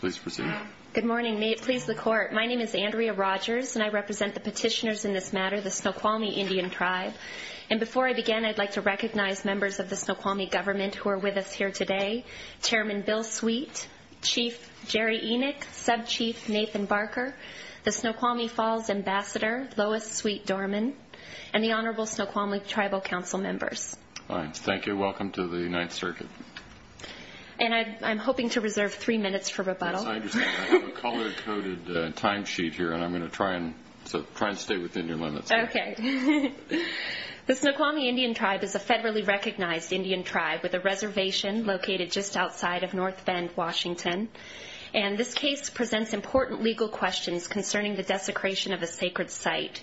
Please proceed. Good morning. May it please the Court, my name is Andrea Rogers, and I represent the petitioners in this matter, the Snoqualmie Indian Tribe. And before I begin, I'd like to recognize members of the Snoqualmie government who are with us here today, Chairman Bill Sweet, Chief Jerry Enoch, Sub-Chief Nathan Barker, the Snoqualmie Falls Ambassador, Lois Sweet-Dorman, and the Honorable Snoqualmie Tribal Council Members. Thank you. Welcome to the Ninth Circuit. And I'm hoping to reserve three minutes for rebuttal. Yes, I understand. I have a color-coded timesheet here, and I'm going to try and stay within your limits. Okay. The Snoqualmie Indian Tribe is a federally recognized Indian tribe with a reservation located just outside of North Bend, Washington. And this case presents important legal questions concerning the desecration of a sacred site.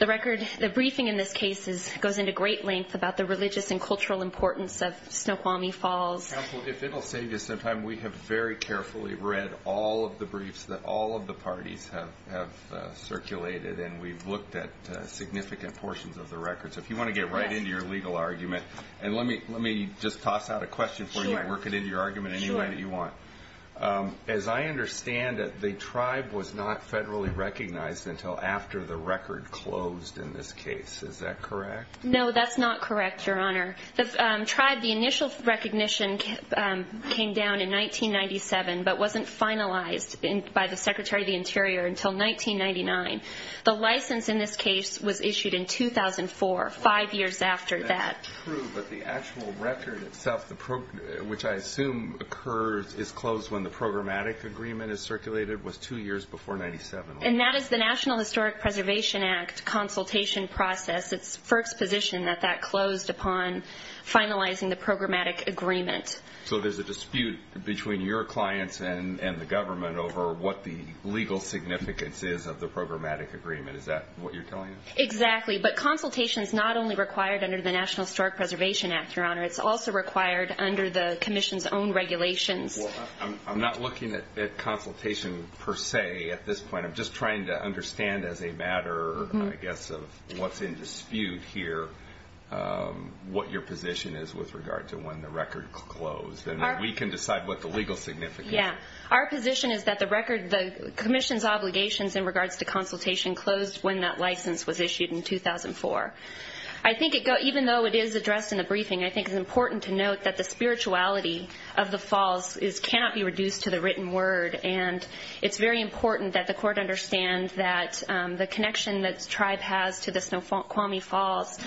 The briefing in this case goes into great length about the religious and cultural importance of Snoqualmie Falls. Counsel, if it will save you some time, we have very carefully read all of the briefs that all of the parties have circulated, and we've looked at significant portions of the records. So if you want to get right into your legal argument, and let me just toss out a question for you and work it into your argument As I understand it, the tribe was not federally recognized until after the record closed in this case. Is that correct? No, that's not correct, Your Honor. The tribe, the initial recognition came down in 1997, but wasn't finalized by the Secretary of the Interior until 1999. The license in this case was issued in 2004, five years after that. That's true, but the actual record itself, which I assume is closed when the programmatic agreement is circulated, was two years before 1997. And that is the National Historic Preservation Act consultation process. It's FERC's position that that closed upon finalizing the programmatic agreement. So there's a dispute between your clients and the government over what the legal significance is of the programmatic agreement. Is that what you're telling us? Exactly, but consultation is not only required under the National Historic Preservation Act, Your Honor. It's also required under the Commission's own regulations. I'm not looking at consultation per se at this point. I'm just trying to understand as a matter, I guess, of what's in dispute here, what your position is with regard to when the record closed, and then we can decide what the legal significance is. Yeah. Our position is that the Commission's obligations in regards to consultation closed when that license was issued in 2004. I think, even though it is addressed in the briefing, I think it's important to note that the spirituality of the falls cannot be reduced to the written word. And it's very important that the Court understand that the connection that the tribe has to the Snoqualmie Falls,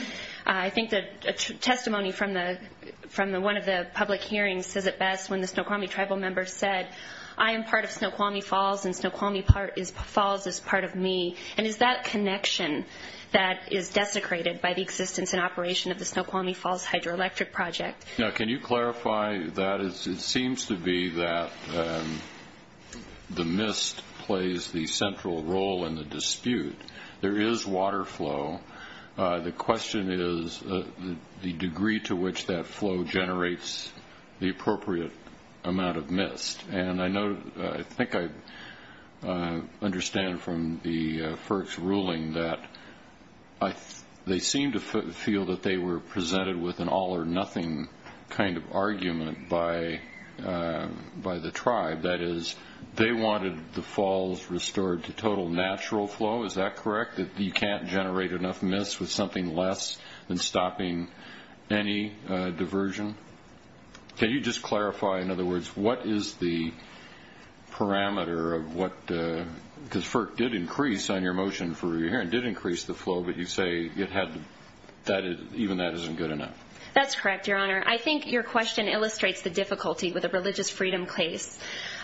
I think that a testimony from one of the public hearings says it best when the Snoqualmie Tribal members said, I am part of Snoqualmie Falls and Snoqualmie Falls is part of me. And is that connection that is desecrated by the existence and operation of the Snoqualmie Falls Hydroelectric Project? Now, can you clarify that? It seems to be that the mist plays the central role in the dispute. There is water flow. The question is the degree to which that flow generates the appropriate amount of mist. And I think I understand from the FERC's ruling that they seem to feel that they were presented with an all or nothing kind of argument by the tribe. That is, they wanted the falls restored to total natural flow. Is that correct? That you can't generate enough mist with something less than stopping any diversion? Can you just clarify, in other words, what is the parameter of what, because FERC did increase on your motion for review here, and did increase the flow, but you say even that isn't good enough. That's correct, Your Honor. I think your question illustrates the difficulty with a religious freedom case.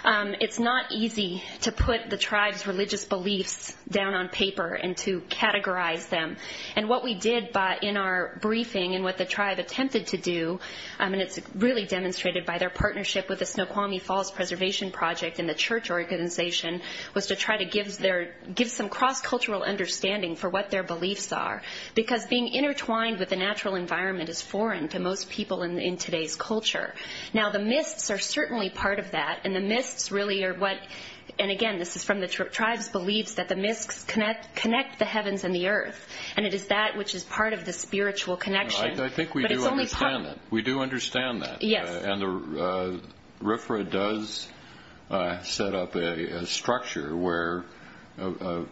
It's not easy to put the tribe's religious beliefs down on paper and to categorize them. And what we did in our briefing and what the tribe attempted to do, and it's really demonstrated by their partnership with the Snoqualmie Falls Preservation Project and the church organization, was to try to give some cross-cultural understanding for what their beliefs are. Because being intertwined with the natural environment is foreign to most people in today's culture. Now, the mists are certainly part of that, and the mists really are what, and again, this is from the tribe's beliefs, that the mists connect the heavens and the earth, and it is that which is part of the spiritual connection. I think we do understand that. We do understand that. And RFRA does set up a structure where, in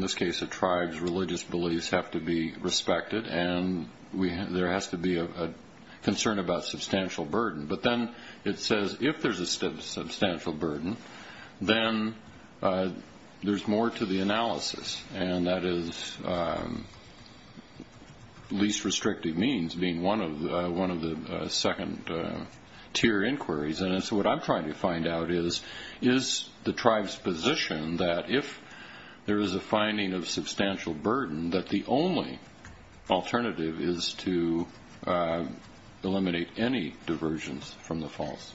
this case, a tribe's religious beliefs have to be respected, and there has to be a concern about substantial burden. But then it says if there's a substantial burden, then there's more to the analysis, and that is least restrictive means being one of the second-tier inquiries. And so what I'm trying to find out is, is the tribe's position that if there is a finding of substantial burden, that the only alternative is to eliminate any diversions from the falls?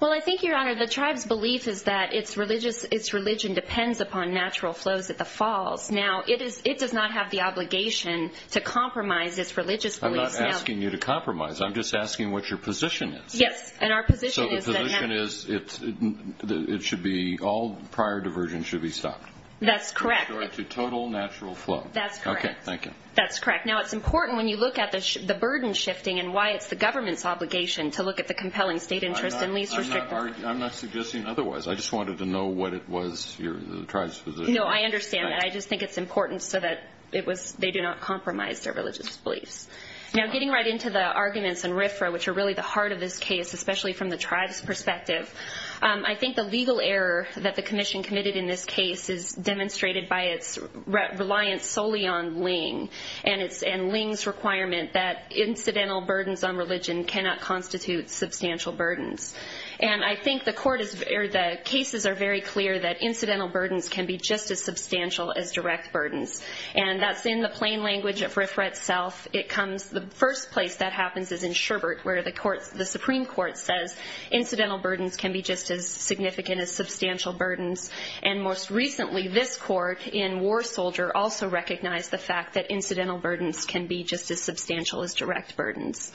Well, I think, Your Honor, the tribe's belief is that its religion depends upon natural flows at the falls. Now, it does not have the obligation to compromise its religious beliefs. I'm not asking you to compromise. I'm just asking what your position is. Yes, and our position is that... So the position is it should be all prior diversions should be stopped. That's correct. To total natural flow. That's correct. Okay, thank you. That's correct. Now, it's important when you look at the burden shifting and why it's the government's obligation to look at the compelling state interest and least restrictive... I'm not suggesting otherwise. I just wanted to know what it was, the tribe's position. No, I understand that. I just think it's important so that they do not compromise their religious beliefs. Now, getting right into the arguments in RFRA, which are really the heart of this case, especially from the tribe's perspective, I think the legal error that the commission committed in this case is demonstrated by its reliance solely on LING and LING's requirement that incidental burdens on religion cannot constitute substantial burdens. And I think the cases are very clear that incidental burdens can be just as substantial as direct burdens. And that's in the plain language of RFRA itself. The first place that happens is in Sherbert where the Supreme Court says incidental burdens can be just as significant as substantial burdens. And most recently, this court in War Soldier also recognized the fact that incidental burdens can be just as substantial as direct burdens.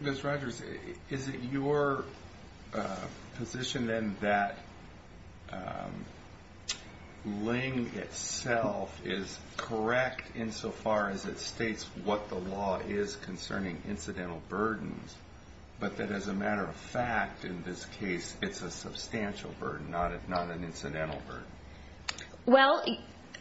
Ms. Rogers, is it your position then that LING itself is correct insofar as it states what the law is concerning incidental burdens, but that as a matter of fact, in this case, it's a substantial burden, not an incidental burden? Well,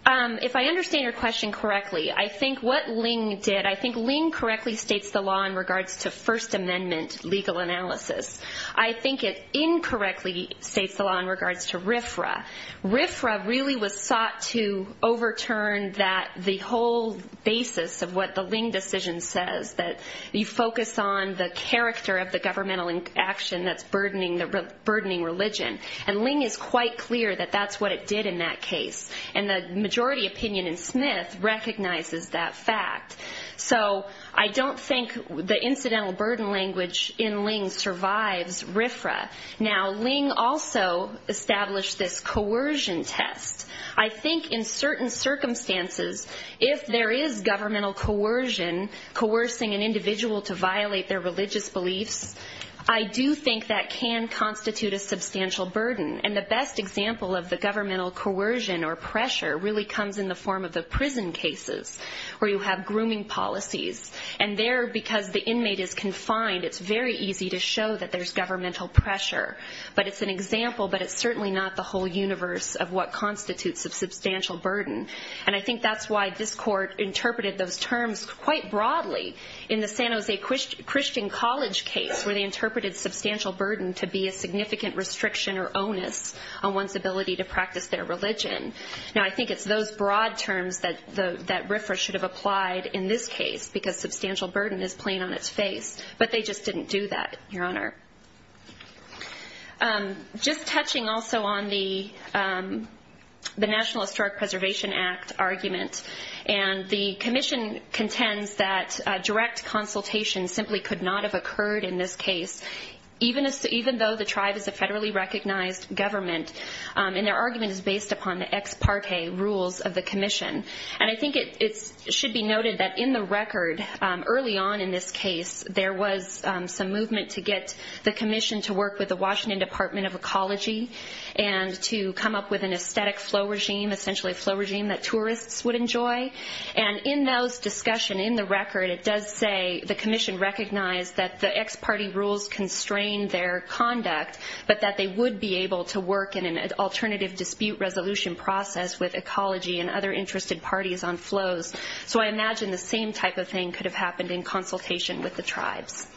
if I understand your question correctly, I think what LING did, I think LING correctly states the law in regards to First Amendment legal analysis. I think it incorrectly states the law in regards to RFRA. RFRA really was sought to overturn the whole basis of what the LING decision says, that you focus on the character of the governmental action that's burdening religion. And LING is quite clear that that's what it did in that case. And the majority opinion in Smith recognizes that fact. So I don't think the incidental burden language in LING survives RFRA. Now, LING also established this coercion test. I think in certain circumstances, if there is governmental coercion, coercing an individual to violate their religious beliefs, I do think that can constitute a substantial burden. And the best example of the governmental coercion or pressure really comes in the form of the prison cases, where you have grooming policies. And there, because the inmate is confined, it's very easy to show that there's governmental pressure. But it's an example, but it's certainly not the whole universe of what constitutes a substantial burden. And I think that's why this Court interpreted those terms quite broadly in the San Jose Christian College case, where they interpreted substantial burden to be a significant restriction or onus on one's ability to practice their religion. Now, I think it's those broad terms that RFRA should have applied in this case, because substantial burden is plain on its face. But they just didn't do that, Your Honor. Just touching also on the National Historic Preservation Act argument, and the commission contends that direct consultation simply could not have occurred in this case, even though the tribe is a federally recognized government, and their argument is based upon the ex parte rules of the commission. And I think it should be noted that in the record, early on in this case, there was some movement to get the commission to work with the Washington Department of Ecology and to come up with an aesthetic flow regime, essentially a flow regime that tourists would enjoy. And in those discussions, in the record, it does say the commission recognized that the ex parte rules constrained their conduct, but that they would be able to work in an alternative dispute resolution process with ecology and other interested parties on flows. So I imagine the same type of thing could have happened in consultation with the tribes.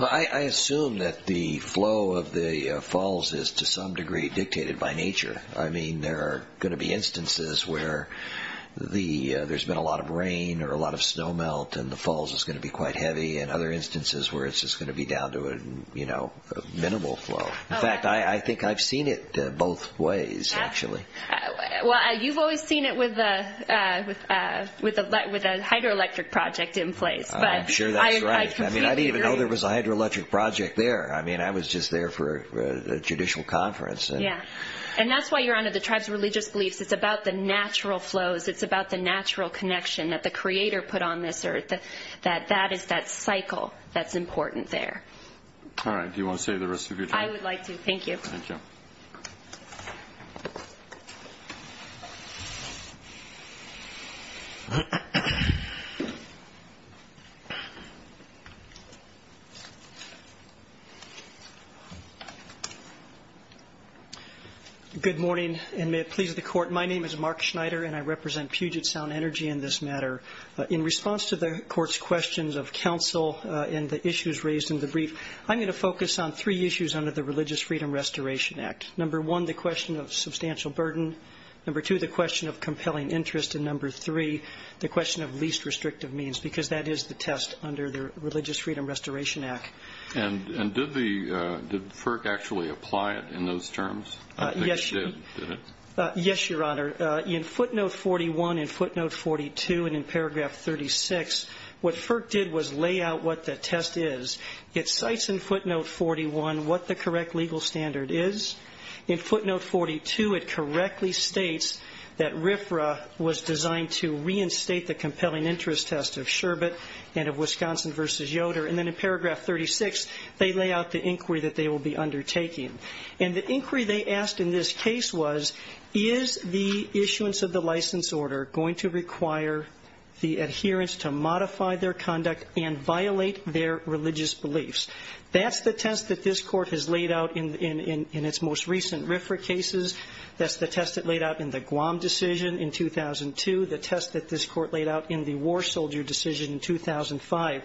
I assume that the flow of the falls is to some degree dictated by nature. I mean, there are going to be instances where there's been a lot of rain or a lot of snow melt, and the falls is going to be quite heavy, and other instances where it's just going to be down to a minimal flow. In fact, I think I've seen it both ways, actually. Well, you've always seen it with a hydroelectric project in place. I'm sure that's right. I completely agree. I mean, I didn't even know there was a hydroelectric project there. I mean, I was just there for a judicial conference. Yeah, and that's why you're under the tribe's religious beliefs. It's about the natural flows. It's about the natural connection that the creator put on this earth, that that is that cycle that's important there. All right. Do you want to save the rest of your time? I would like to. Thank you. Good morning, and may it please the Court. My name is Mark Schneider, and I represent Puget Sound Energy in this matter. In response to the Court's questions of counsel and the issues raised in the brief, I'm going to focus on three issues under the Religious Freedom Restoration Act. Number one, the question of substantial burden. Number two, the question of compelling interest. And number three, the question of least restrictive means, because that is the test under the Religious Freedom Restoration Act. Yes, Your Honor. In footnote 41 and footnote 42 and in paragraph 36, what FERC did was lay out what the test is. It cites in footnote 41 what the correct legal standard is. In footnote 42, it correctly states that RFRA was designed to reinstate the compelling interest test of Sherbet and of Wisconsin v. Yoder. And then in paragraph 36, they lay out the inquiry that they will be undertaking. And the inquiry they asked in this case was, is the issuance of the license order going to require the adherents to modify their conduct and violate their religious beliefs? That's the test that this Court has laid out in its most recent RFRA cases. That's the test it laid out in the Guam decision in 2002, the test that this Court laid out in the war soldier decision in 2005.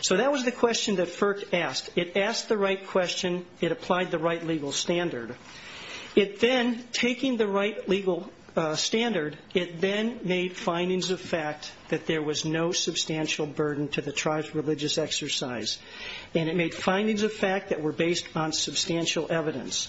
So that was the question that FERC asked. It asked the right question. It applied the right legal standard. It then, taking the right legal standard, it then made findings of fact that there was no substantial burden to the tribe's religious exercise. And it made findings of fact that were based on substantial evidence.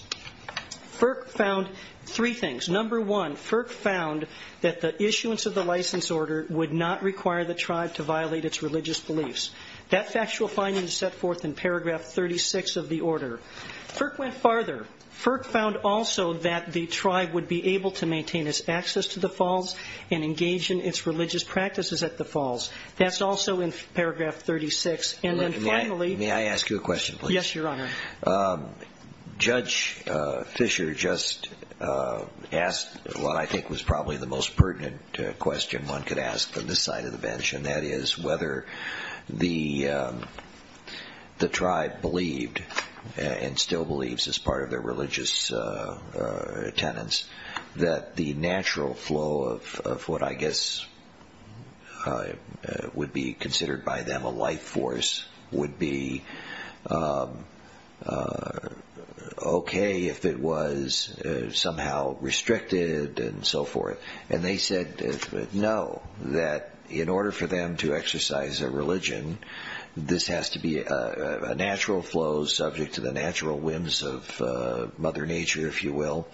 FERC found three things. Number one, FERC found that the issuance of the license order would not require the tribe to violate its religious beliefs. That factual finding is set forth in paragraph 36 of the order. FERC went farther. FERC found also that the tribe would be able to maintain its access to the falls and engage in its religious practices at the falls. That's also in paragraph 36. And then, finally. May I ask you a question, please? Yes, Your Honor. Judge Fisher just asked what I think was probably the most pertinent question one could ask on this side of the bench, and that is whether the tribe believed and still believes as part of their religious tenets that the natural flow of what I guess would be considered by them a life force would be okay if it was somehow restricted and so forth. And they said no, that in order for them to exercise their religion, this has to be a natural flow subject to the natural whims of Mother Nature, if you will,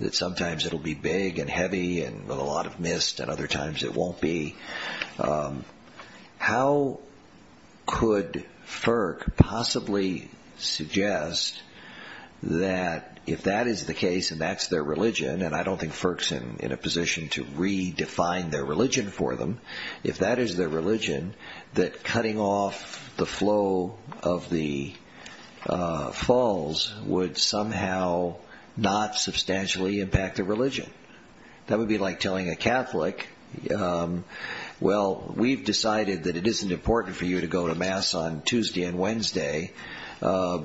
that sometimes it will be big and heavy and with a lot of mist and other times it won't be. How could FERC possibly suggest that if that is the case and that's their religion, and I don't think FERC's in a position to redefine their religion for them, if that is their religion, that cutting off the flow of the falls would somehow not substantially impact their religion? That would be like telling a Catholic, well, we've decided that it isn't important for you to go to Mass on Tuesday and Wednesday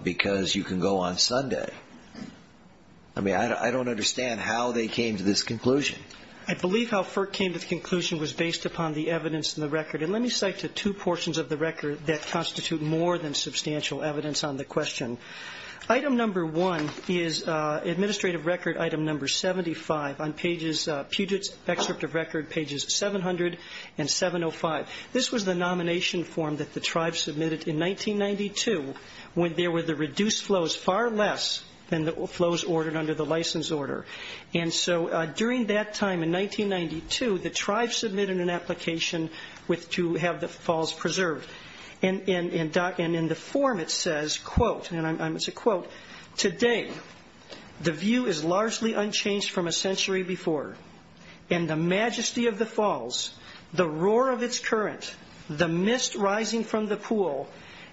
because you can go on Sunday. I mean, I don't understand how they came to this conclusion. I believe how FERC came to the conclusion was based upon the evidence in the record, and let me cite the two portions of the record that constitute more than substantial evidence on the question. Item number one is administrative record item number 75 on Puget's excerpt of record pages 700 and 705. This was the nomination form that the tribe submitted in 1992 when there were the reduced flows far less than the flows ordered under the license order. And so during that time in 1992, the tribe submitted an application to have the falls preserved, and in the form it says, quote, and it's a quote, today the view is largely unchanged from a century before, and the majesty of the falls, the roar of its current, the mist rising from the pool,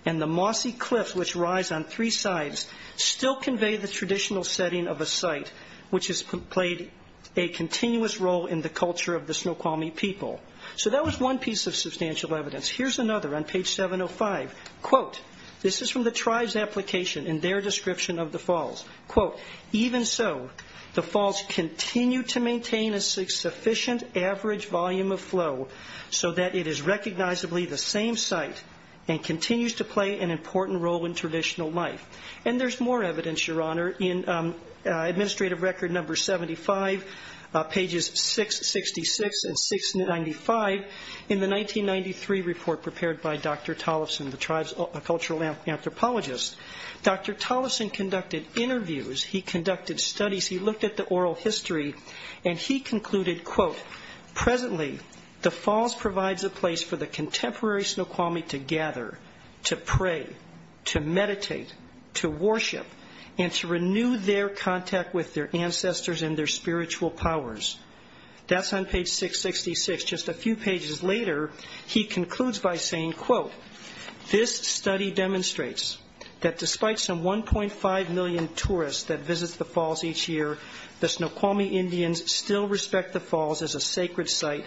and the mossy cliffs which rise on three sides still convey the traditional setting of a site which has played a continuous role in the culture of the Snoqualmie people. So that was one piece of substantial evidence. Here's another on page 705. Quote, this is from the tribe's application in their description of the falls. Quote, even so, the falls continue to maintain a sufficient average volume of flow so that it is recognizably the same site and continues to play an important role in traditional life. And there's more evidence, Your Honor, in administrative record number 75, pages 666 and 695, in the 1993 report prepared by Dr. Tollefson, the tribe's cultural anthropologist. Dr. Tollefson conducted interviews, he conducted studies, he looked at the oral history, and he concluded, quote, presently, the falls provides a place for the contemporary Snoqualmie to gather, to pray, to meditate, to worship, and to renew their contact with their ancestors and their spiritual powers. That's on page 666. Just a few pages later, he concludes by saying, quote, this study demonstrates that despite some 1.5 million tourists that visit the falls each year, the Snoqualmie Indians still respect the falls as a sacred site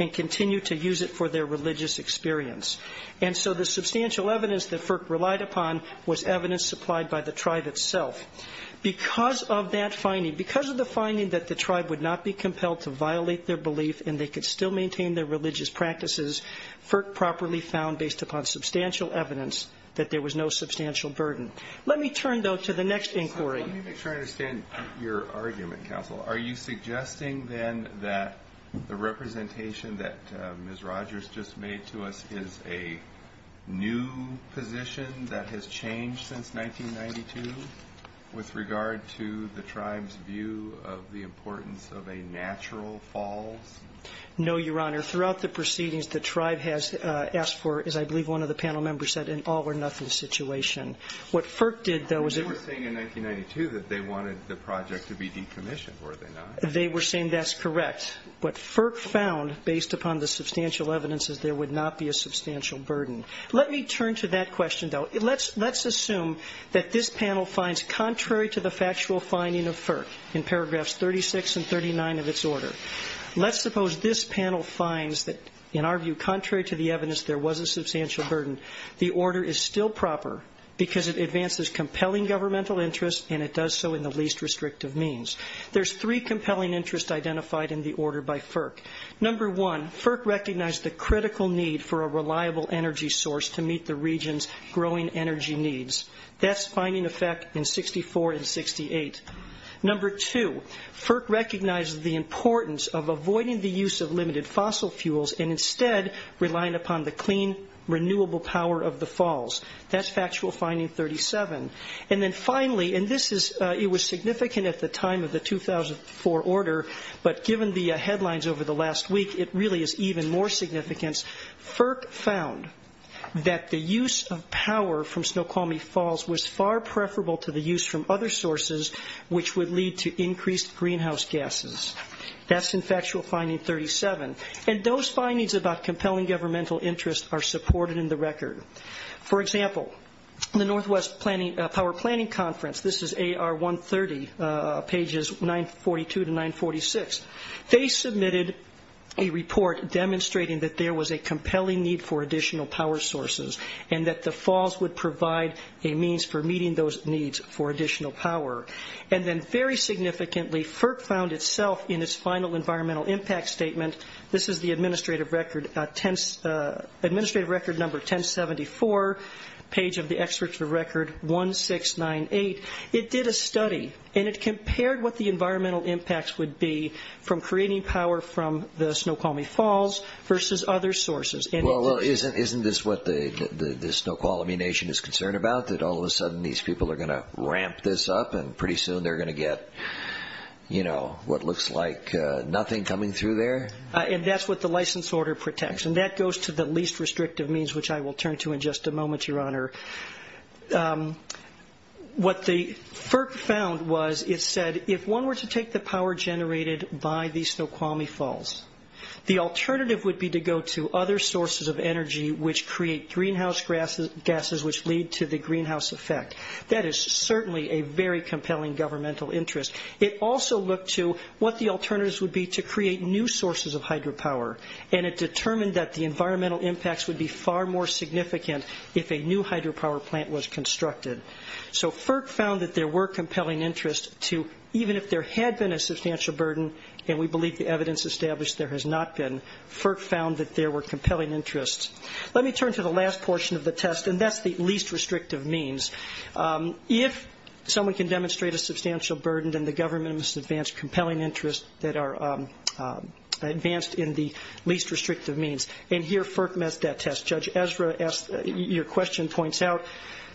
and continue to use it for their religious experience. And so the substantial evidence that FERC relied upon was evidence supplied by the tribe itself. Because of that finding, because of the finding that the tribe would not be compelled to violate their belief and they could still maintain their religious practices, FERC properly found, based upon substantial evidence, that there was no substantial burden. Let me turn, though, to the next inquiry. Let me make sure I understand your argument, counsel. Are you suggesting, then, that the representation that Ms. Rogers just made to us is a new position that has changed since 1992 with regard to the tribe's view of the importance of a natural falls? No, Your Honor. Throughout the proceedings, the tribe has asked for, as I believe one of the panel members said, an all-or-nothing situation. What FERC did, though, is it was saying in 1992 that they wanted the project to be decommissioned. Were they not? They were saying that's correct. What FERC found, based upon the substantial evidence, is there would not be a substantial burden. Let me turn to that question, though. Let's assume that this panel finds, contrary to the factual finding of FERC in paragraphs 36 and 39 of its order, let's suppose this panel finds that, in our view, contrary to the evidence, there was a substantial burden. The order is still proper because it advances compelling governmental interests, and it does so in the least restrictive means. There's three compelling interests identified in the order by FERC. Number one, FERC recognized the critical need for a reliable energy source to meet the region's growing energy needs. That's finding effect in 64 and 68. Number two, FERC recognized the importance of avoiding the use of limited fossil fuels and instead relying upon the clean, renewable power of the falls. That's factual finding 37. And then finally, and this was significant at the time of the 2004 order, but given the headlines over the last week, it really is even more significant. FERC found that the use of power from Snoqualmie Falls was far preferable to the use from other sources, which would lead to increased greenhouse gases. That's in factual finding 37. And those findings about compelling governmental interests are supported in the record. For example, the Northwest Power Planning Conference, this is AR 130, pages 942 to 946, they submitted a report demonstrating that there was a compelling need for additional power sources and that the falls would provide a means for meeting those needs for additional power. And then very significantly, FERC found itself in its final environmental impact statement. This is the administrative record number 1074, page of the experts for record 1698. It did a study and it compared what the environmental impacts would be from creating power from the Snoqualmie Falls versus other sources. Well, isn't this what the Snoqualmie Nation is concerned about, that all of a sudden these people are going to ramp this up and pretty soon they're going to get, you know, what looks like nothing coming through there? And that's what the license order protects. And that goes to the least restrictive means, which I will turn to in just a moment, Your Honor. What the FERC found was it said if one were to take the power generated by the Snoqualmie Falls, the alternative would be to go to other sources of energy which create greenhouse gases which lead to the greenhouse effect. That is certainly a very compelling governmental interest. It also looked to what the alternatives would be to create new sources of hydropower, and it determined that the environmental impacts would be far more significant if a new hydropower plant was constructed. So FERC found that there were compelling interests to, even if there had been a substantial burden, and we believe the evidence established there has not been, FERC found that there were compelling interests. Let me turn to the last portion of the test, and that's the least restrictive means. If someone can demonstrate a substantial burden, then the government must advance compelling interests that are advanced in the least restrictive means. And here FERC met that test. Judge Ezra, your question points out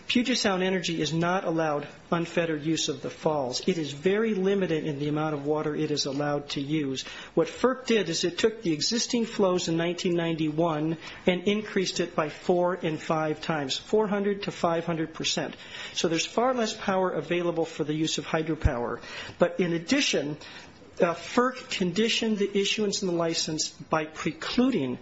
Puget Sound Energy is not allowed unfettered use of the falls. It is very limited in the amount of water it is allowed to use. What FERC did is it took the existing flows in 1991 and increased it by four and five times, 400 to 500 percent. So there's far less power available for the use of hydropower. But in addition, FERC conditioned the issuance and the license by precluding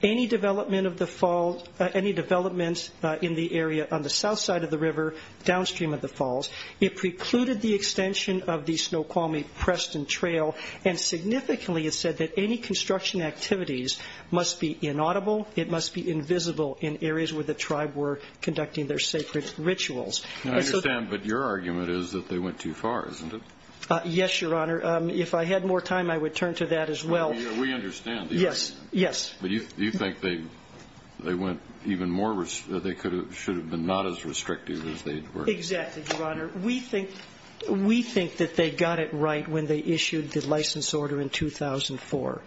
any development of the fall, any developments in the area on the south side of the river downstream of the falls. It precluded the extension of the Snoqualmie-Preston Trail and significantly it said that any construction activities must be inaudible. It must be invisible in areas where the tribe were conducting their sacred rituals. I understand, but your argument is that they went too far, isn't it? Yes, Your Honor. If I had more time, I would turn to that as well. We understand. Yes, yes. But you think they went even more, they should have been not as restrictive as they were. Exactly, Your Honor. We think that they got it right when they issued the license order in 2004.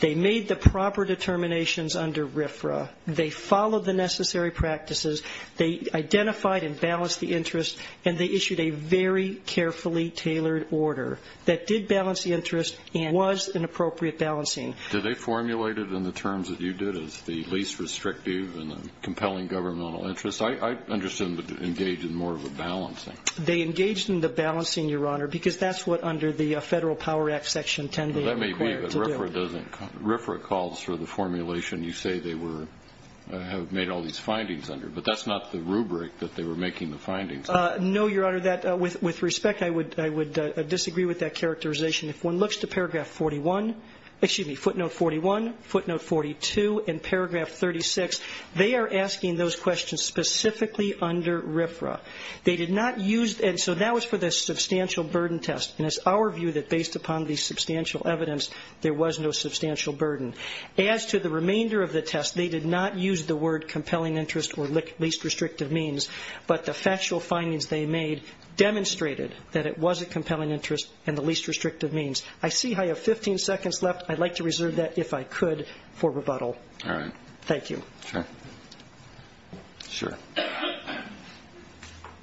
They made the proper determinations under RFRA. They followed the necessary practices. They identified and balanced the interest, and they issued a very carefully tailored order that did balance the interest and was an appropriate balancing. Did they formulate it in the terms that you did as the least restrictive and the compelling governmental interest? I understand they engaged in more of a balancing. They engaged in the balancing, Your Honor, because that's what under the Federal Power Act Section 10 they required to do. That may be, but RFRA calls for the formulation you say they have made all these findings under, but that's not the rubric that they were making the findings under. No, Your Honor. With respect, I would disagree with that characterization. If one looks to footnote 41, footnote 42, and paragraph 36, they are asking those questions specifically under RFRA. They did not use, and so that was for the substantial burden test, and it's our view that based upon the substantial evidence, there was no substantial burden. As to the remainder of the test, they did not use the word compelling interest or least restrictive means, but the factual findings they made demonstrated that it was a compelling interest and the least restrictive means. I see I have 15 seconds left. I'd like to reserve that, if I could, for rebuttal. All right. Thank you. Sure.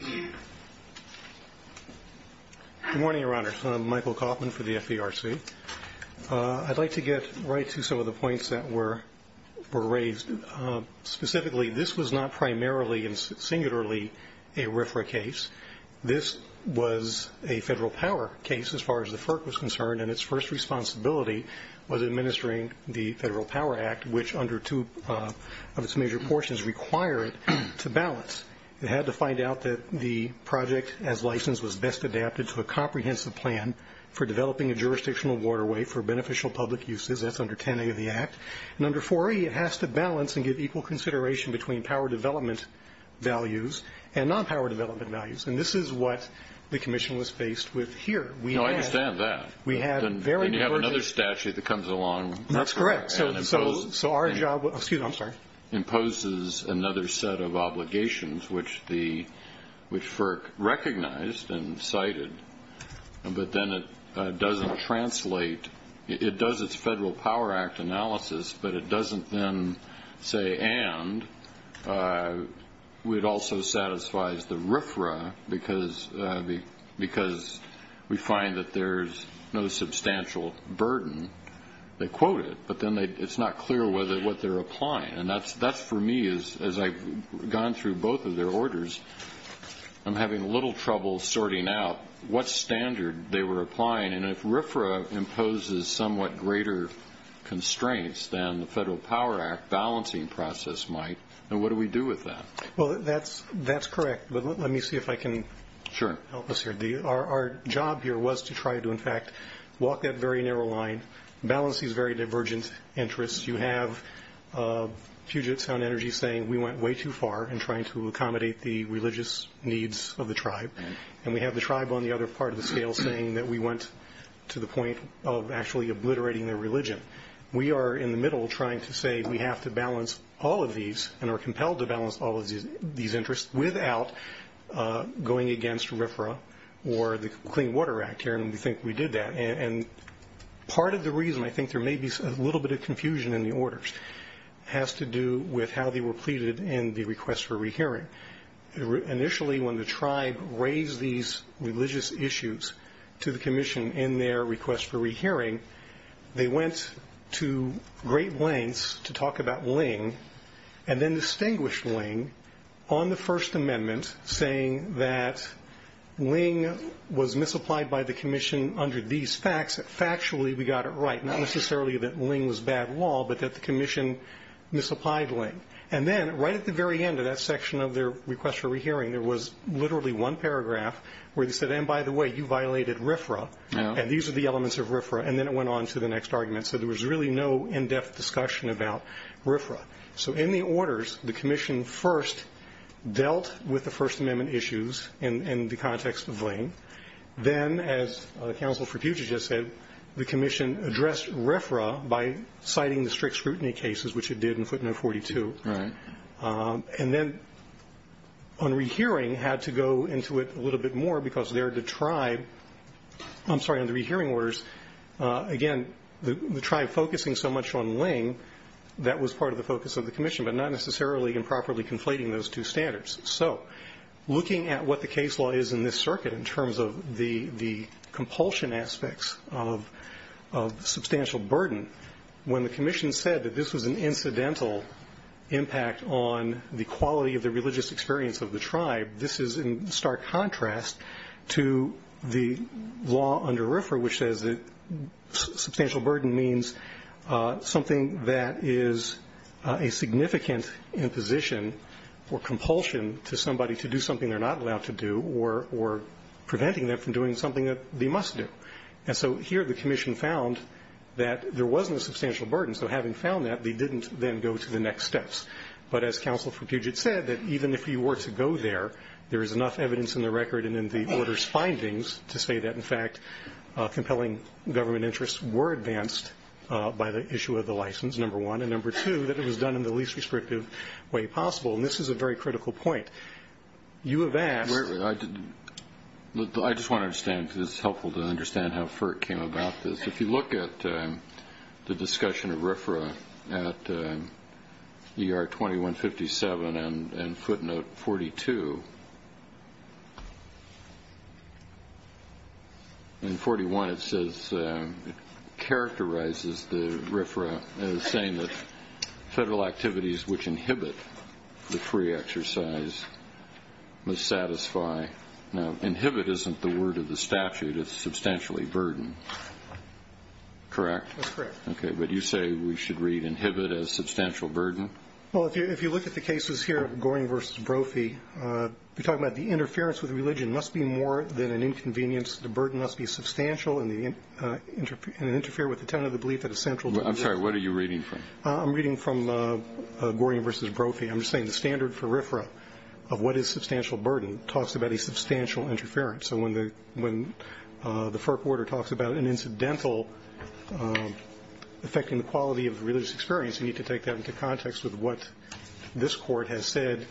Good morning, Your Honor. I'm Michael Kaufman for the FDRC. I'd like to get right to some of the points that were raised. Specifically, this was not primarily and singularly a RFRA case. This was a Federal Power case, as far as the FERC was concerned, and its first responsibility was administering the Federal Power Act, which under two of its major portions require it to balance. It had to find out that the project, as licensed, was best adapted to a comprehensive plan for developing a jurisdictional waterway for beneficial public uses. That's under 10A of the Act. And under 4E, it has to balance and give equal consideration between power development values and non-power development values, and this is what the commission was faced with here. I understand that. Then you have another statute that comes along. That's correct. So our job imposes another set of obligations, which FERC recognized and cited, but then it doesn't translate. It does its Federal Power Act analysis, but it doesn't then say and it also satisfies the RFRA because we find that there's no substantial burden. They quote it, but then it's not clear what they're applying, and that's, for me, as I've gone through both of their orders, I'm having a little trouble sorting out what standard they were applying. And if RFRA imposes somewhat greater constraints than the Federal Power Act balancing process might, then what do we do with that? Well, that's correct, but let me see if I can help us here. Our job here was to try to, in fact, walk that very narrow line, balance these very divergent interests. You have Puget Sound Energy saying we went way too far in trying to accommodate the religious needs of the tribe, and we have the tribe on the other part of the scale saying that we went to the point of actually obliterating their religion. We are in the middle trying to say we have to balance all of these and are compelled to balance all of these interests without going against RFRA or the Clean Water Act here, and we think we did that. And part of the reason, I think there may be a little bit of confusion in the orders, has to do with how they were pleaded in the request for rehearing. Initially, when the tribe raised these religious issues to the commission in their request for rehearing, they went to great lengths to talk about Ling, and then distinguished Ling on the First Amendment, saying that Ling was misapplied by the commission under these facts. Factually, we got it right, not necessarily that Ling was bad law, but that the commission misapplied Ling. And then right at the very end of that section of their request for rehearing, there was literally one paragraph where they said, and by the way, you violated RFRA, and these are the elements of RFRA, and then it went on to the next argument. So there was really no in-depth discussion about RFRA. So in the orders, the commission first dealt with the First Amendment issues in the context of Ling. Then, as Counsel for Puget just said, the commission addressed RFRA by citing the strict scrutiny cases, which it did in footnote 42. Right. And then on rehearing, had to go into it a little bit more because they're the tribe. I'm sorry, on the rehearing orders, again, the tribe focusing so much on Ling, that was part of the focus of the commission, but not necessarily improperly conflating those two standards. So looking at what the case law is in this circuit in terms of the compulsion aspects of substantial burden, when the commission said that this was an incidental impact on the quality of the religious experience of the tribe, this is in stark contrast to the law under RFRA, which says that substantial burden means something that is a significant imposition or compulsion to somebody to do something they're not allowed to do or preventing them from doing something that they must do. And so here the commission found that there wasn't a substantial burden, so having found that, they didn't then go to the next steps. But as Counsel for Puget said, that even if you were to go there, there is enough evidence in the record and in the order's findings to say that, in fact, compelling government interests were advanced by the issue of the license, number one, and number two, that it was done in the least restrictive way possible. And this is a very critical point. You have asked ñ I just want to understand because it's helpful to understand how FERC came about this. If you look at the discussion of RFRA at ER 2157 and footnote 42, in 41 it says it characterizes the RFRA as saying that federal activities which inhibit the free exercise must satisfy. Okay. Now, inhibit isn't the word of the statute. It's substantially burdened, correct? That's correct. Okay. But you say we should read inhibit as substantial burden? Well, if you look at the cases here, Goring v. Brophy, you're talking about the interference with religion must be more than an inconvenience. The burden must be substantial and interfere with the tenet of the belief that a central ñ What are you reading from? I'm reading from Goring v. Brophy. I'm just saying the standard for RFRA of what is substantial burden talks about a substantial interference. So when the FERC order talks about an incidental affecting the quality of religious experience, you need to take that into context with what this Court has said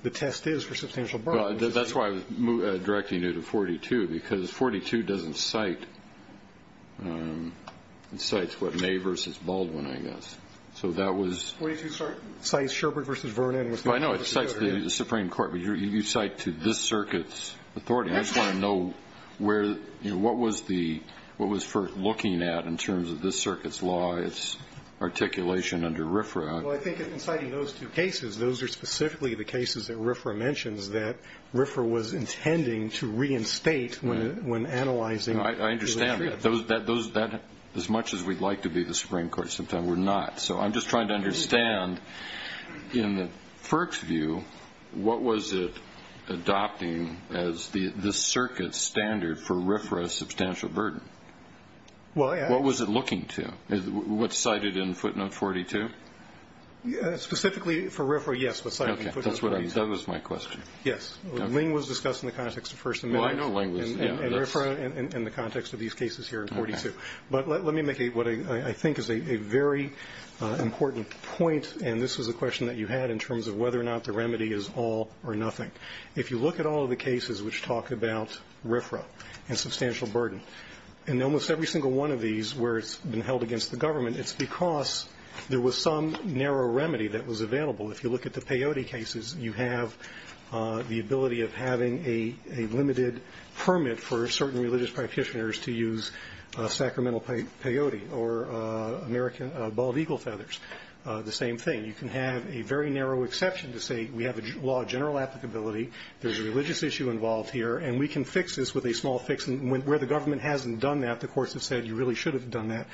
the test is for substantial burden. That's why I was directing you to 42, because 42 doesn't cite ñ it cites what May v. Baldwin, I guess. So that was ñ 42, sorry? 42 cites Sherbert v. Vernon. I know it cites the Supreme Court, but you cite to this circuit's authority. I just want to know where ñ what was the ñ what was FERC looking at in terms of this circuit's law, its articulation under RFRA? Well, I think in citing those two cases, those are specifically the cases that RFRA mentions that RFRA was intending to reinstate when analyzing the issue. I understand that. Those ñ as much as we'd like to be the Supreme Court, sometimes we're not. So I'm just trying to understand, in FERC's view, what was it adopting as the circuit's standard for RFRA's substantial burden? Well, I ñ What was it looking to? What's cited in footnote 42? Specifically for RFRA, yes, what's cited in footnote 42. Okay. That's what I was ñ that was my question. Yes. Okay. Ling was discussed in the context of First Amendment. And RFRA in the context of these cases here in 42. Okay. But let me make what I think is a very important point. And this was a question that you had in terms of whether or not the remedy is all or nothing. If you look at all of the cases which talk about RFRA and substantial burden, in almost every single one of these where it's been held against the government, it's because there was some narrow remedy that was available. If you look at the Peyote cases, you have the ability of having a limited permit for certain religious practitioners to use sacramental peyote or American bald eagle feathers, the same thing. You can have a very narrow exception to say we have a law of general applicability, there's a religious issue involved here, and we can fix this with a small fix where the government hasn't done that, the courts have said you really should have done that.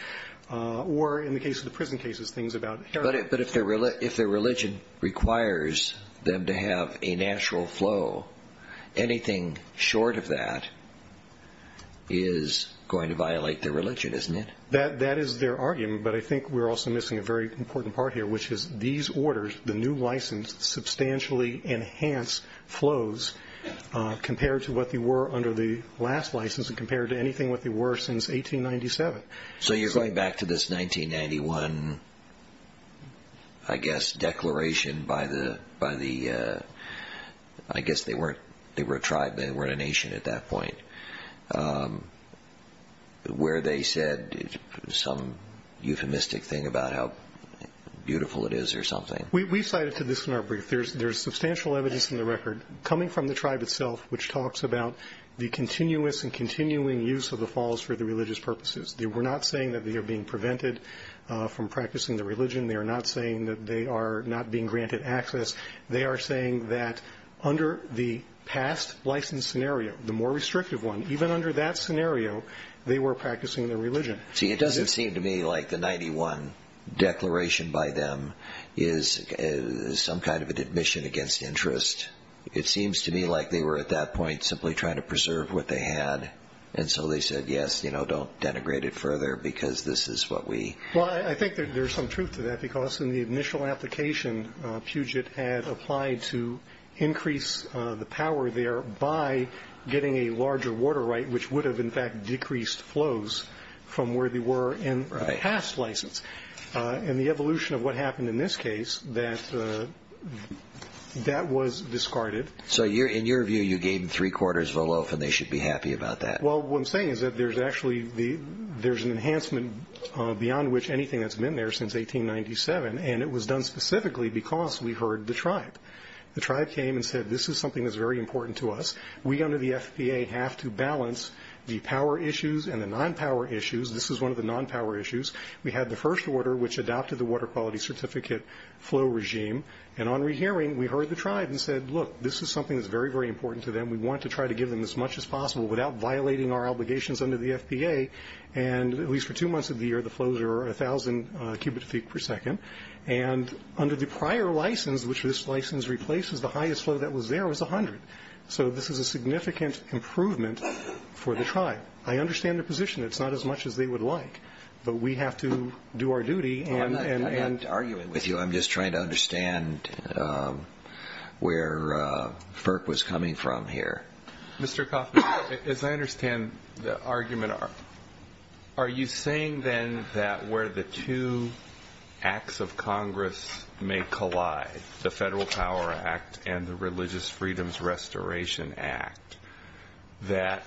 Or in the case of the prison cases, things about heritage. But if the religion requires them to have a natural flow, anything short of that is going to violate their religion, isn't it? That is their argument, but I think we're also missing a very important part here, which is these orders, the new license, substantially enhance flows compared to what they were under the last license and compared to anything what they were since 1897. So you're going back to this 1991, I guess, declaration by the, I guess they were a tribe, they weren't a nation at that point, where they said some euphemistic thing about how beautiful it is or something. We cited to this in our brief. There's substantial evidence in the record coming from the tribe itself which talks about the continuous and continuing use of the falls for the religious purposes. They were not saying that they are being prevented from practicing their religion. They are not saying that they are not being granted access. They are saying that under the past license scenario, the more restrictive one, even under that scenario, they were practicing their religion. See, it doesn't seem to me like the 91 declaration by them is some kind of an admission against interest. It seems to me like they were at that point simply trying to preserve what they had. And so they said, yes, you know, don't denigrate it further because this is what we. Well, I think there's some truth to that because in the initial application, Puget had applied to increase the power there by getting a larger water right, which would have, in fact, decreased flows from where they were in the past license. In the evolution of what happened in this case, that was discarded. So in your view, you gave them three quarters of a loaf and they should be happy about that? Well, what I'm saying is that there's actually an enhancement beyond which anything that's been there since 1897, and it was done specifically because we heard the tribe. The tribe came and said, this is something that's very important to us. We under the FPA have to balance the power issues and the non-power issues. This is one of the non-power issues. We had the first order, which adopted the Water Quality Certificate flow regime. And on rehearing, we heard the tribe and said, look, this is something that's very, very important to them. We want to try to give them as much as possible without violating our obligations under the FPA. And at least for two months of the year, the flows are 1,000 cubic feet per second. And under the prior license, which this license replaces, the highest flow that was there was 100. So this is a significant improvement for the tribe. I understand their position. It's not as much as they would like, but we have to do our duty. I'm not arguing with you. I'm just trying to understand where FERC was coming from here. Mr. Coffman, as I understand the argument, are you saying then that where the two acts of Congress may collide, the Federal Power Act and the Religious Freedoms Restoration Act, that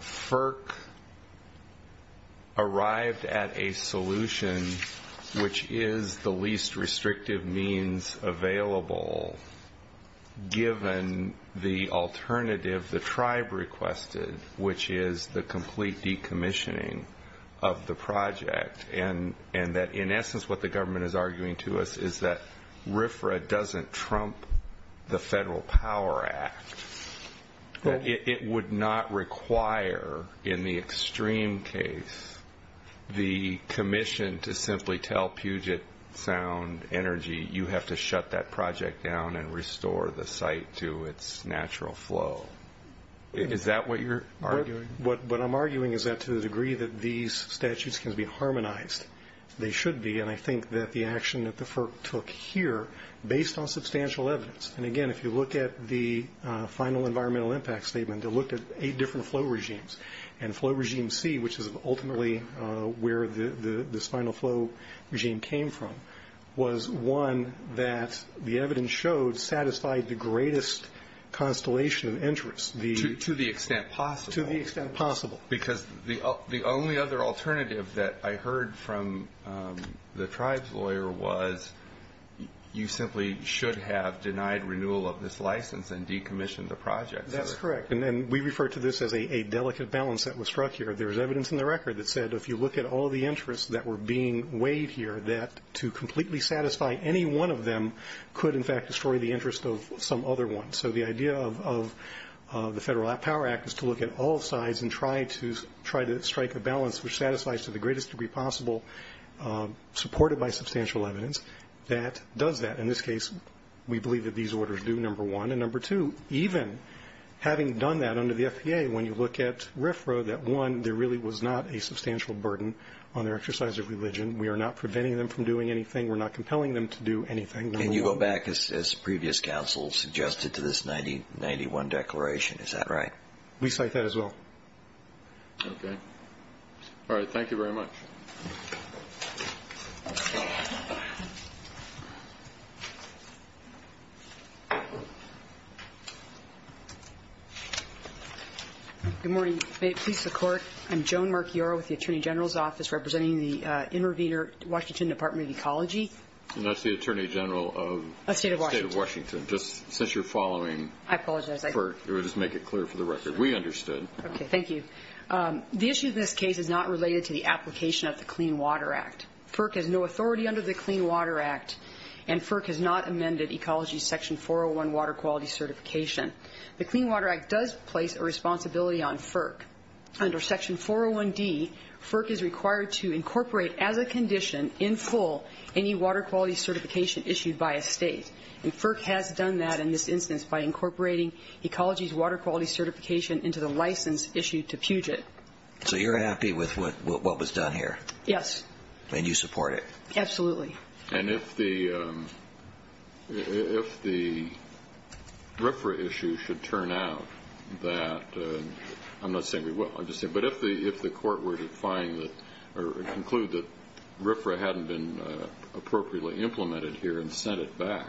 FERC arrived at a solution which is the least restrictive means available, given the alternative the tribe requested, which is the complete decommissioning of the project, and that in essence what the government is arguing to us is that RFRA doesn't trump the Federal Power Act, that it would not require in the extreme case the commission to simply tell Puget Sound Energy, you have to shut that project down and restore the site to its natural flow? Is that what you're arguing? What I'm arguing is that to the degree that these statutes can be harmonized, they should be, and I think that the action that the FERC took here, based on substantial evidence, and again if you look at the final environmental impact statement, they looked at eight different flow regimes, and flow regime C, which is ultimately where this final flow regime came from, was one that the evidence showed satisfied the greatest constellation of interest. To the extent possible? To the extent possible. Because the only other alternative that I heard from the tribe's lawyer was, you simply should have denied renewal of this license and decommissioned the project. That's correct, and we refer to this as a delicate balance that was struck here. There was evidence in the record that said if you look at all the interests that were being weighed here, that to completely satisfy any one of them could in fact destroy the interest of some other ones. So the idea of the Federal Power Act is to look at all sides and try to strike a balance which satisfies to the greatest degree possible, supported by substantial evidence, that does that. In this case, we believe that these orders do, number one. And number two, even having done that under the FPA, when you look at RFRA, that one, there really was not a substantial burden on their exercise of religion. We are not preventing them from doing anything. We're not compelling them to do anything. And you go back, as previous counsel suggested, to this 1991 declaration. Is that right? We cite that as well. Okay. All right. Thank you very much. Good morning. May it please the Court, I'm Joan Marchiora with the Attorney General's Office representing the Intervenor Washington Department of Ecology. And that's the Attorney General of the State of Washington. Just since you're following FERC, we'll just make it clear for the record. We understood. Okay. Thank you. The issue in this case is not related to the application of the Clean Water Act. FERC has no authority under the Clean Water Act, and FERC has not amended Ecology Section 401 Water Quality Certification. The Clean Water Act does place a responsibility on FERC. Under Section 401D, FERC is required to incorporate, as a condition, in full any water quality certification issued by a state. And FERC has done that in this instance by incorporating Ecology's water quality certification into the license issued to Puget. So you're happy with what was done here? Yes. And you support it? Absolutely. And if the RFRA issue should turn out that, I'm not saying we will, I'm just saying, but if the court were to find or conclude that RFRA hadn't been appropriately implemented here and sent it back,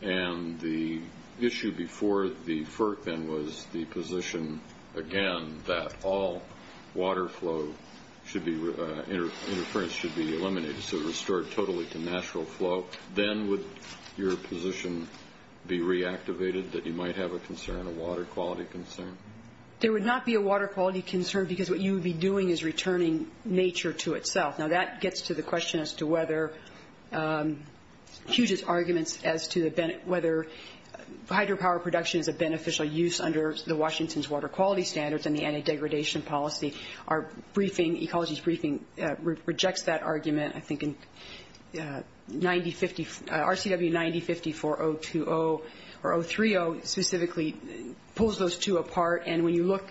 and the issue before the FERC then was the position, again, that all water flow should be, interference should be eliminated, so restored totally to natural flow, then would your position be reactivated that you might have a concern, a water quality concern? There would not be a water quality concern because what you would be doing is returning nature to itself. Now that gets to the question as to whether Puget's arguments as to whether hydropower production is a beneficial use under the Washington's water quality standards and the anti-degradation policy. Our briefing, Ecology's briefing, rejects that argument. I think RCW 9054.02.0 or 03.0 specifically pulls those two apart. And when you look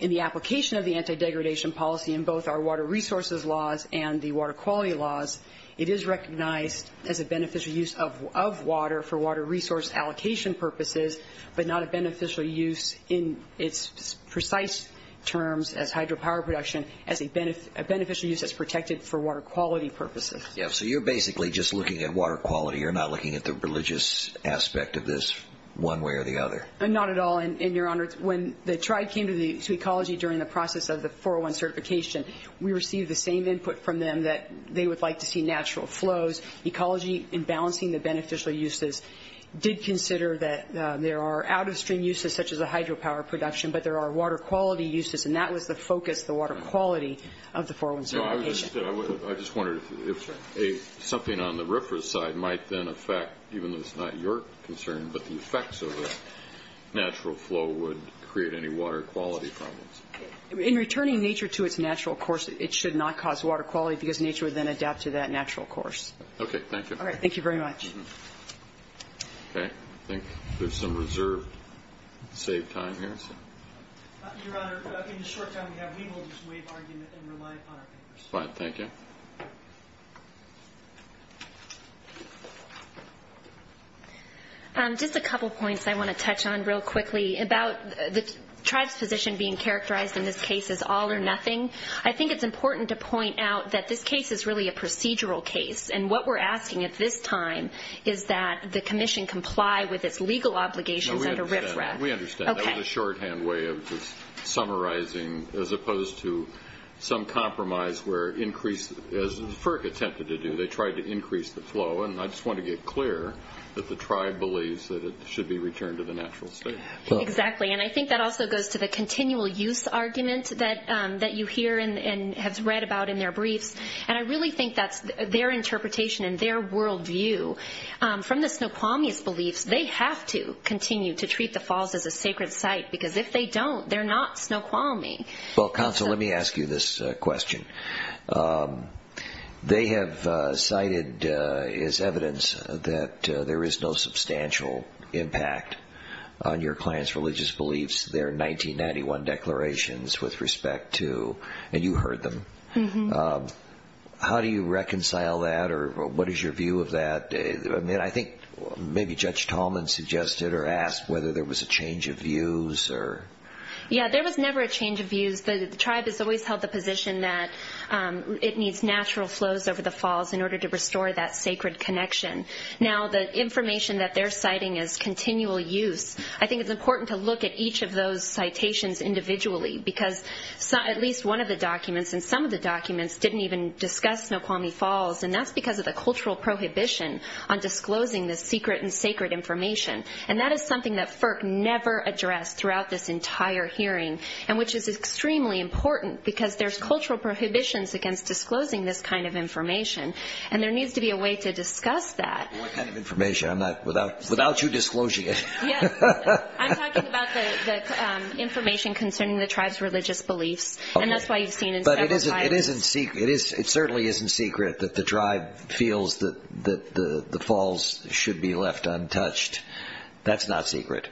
in the application of the anti-degradation policy in both our water resources laws and the water quality laws, it is recognized as a beneficial use of water for water resource allocation purposes but not a beneficial use in its precise terms as hydropower production as a beneficial use that's protected for water quality purposes. Yeah, so you're basically just looking at water quality. You're not looking at the religious aspect of this one way or the other. Not at all, and, Your Honor, when the tribe came to Ecology during the process of the 401 certification, we received the same input from them that they would like to see natural flows. Ecology, in balancing the beneficial uses, did consider that there are out-of-stream uses such as a hydropower production, but there are water quality uses, and that was the focus, the water quality of the 401 certification. I just wondered if something on the RFRA side might then affect, even though it's not your concern, but the effects of a natural flow would create any water quality problems. In returning nature to its natural course, it should not cause water quality because nature would then adapt to that natural course. Okay, thank you. All right, thank you very much. Okay, I think there's some reserved save time here. Your Honor, in the short time we have, we will just waive argument and rely upon our papers. Fine, thank you. Just a couple points I want to touch on real quickly. About the tribe's position being characterized in this case as all or nothing, I think it's important to point out that this case is really a procedural case, and what we're asking at this time is that the commission comply with its legal obligations under RFRA. No, we understand. We understand. Okay. That was a shorthand way of just summarizing, as opposed to some compromise where, as FERC attempted to do, they tried to increase the flow, and I just want to get clear that the tribe believes that it should be returned to the natural state. Exactly, and I think that also goes to the continual use argument that you hear and have read about in their briefs, and I really think that's their interpretation and their worldview. From the Snoqualmie's beliefs, they have to continue to treat the Falls as a sacred site, because if they don't, they're not Snoqualmie. Counsel, let me ask you this question. They have cited as evidence that there is no substantial impact on your clan's religious beliefs, their 1991 declarations with respect to, and you heard them. How do you reconcile that, or what is your view of that? I think maybe Judge Tallman suggested or asked whether there was a change of views. Yeah, there was never a change of views. The tribe has always held the position that it needs natural flows over the Falls in order to restore that sacred connection. Now, the information that they're citing is continual use. I think it's important to look at each of those citations individually, because at least one of the documents and some of the documents didn't even discuss Snoqualmie Falls, and that's because of the cultural prohibition on disclosing this secret and sacred information, and that is something that FERC never addressed throughout this entire hearing, and which is extremely important, because there's cultural prohibitions against disclosing this kind of information, and there needs to be a way to discuss that. What kind of information? Without you disclosing it. Yes. I'm talking about the information concerning the tribe's religious beliefs, and that's why you've seen it several times. But it certainly isn't secret that the tribe feels that the Falls should be left untouched. That's not secret.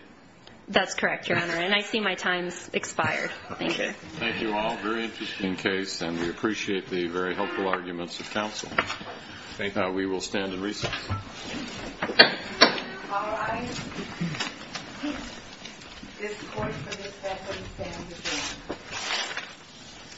That's correct, Your Honor, and I see my time's expired. Thank you. Thank you all. Very interesting case, and we appreciate the very helpful arguments of counsel. I think now we will stand and recess.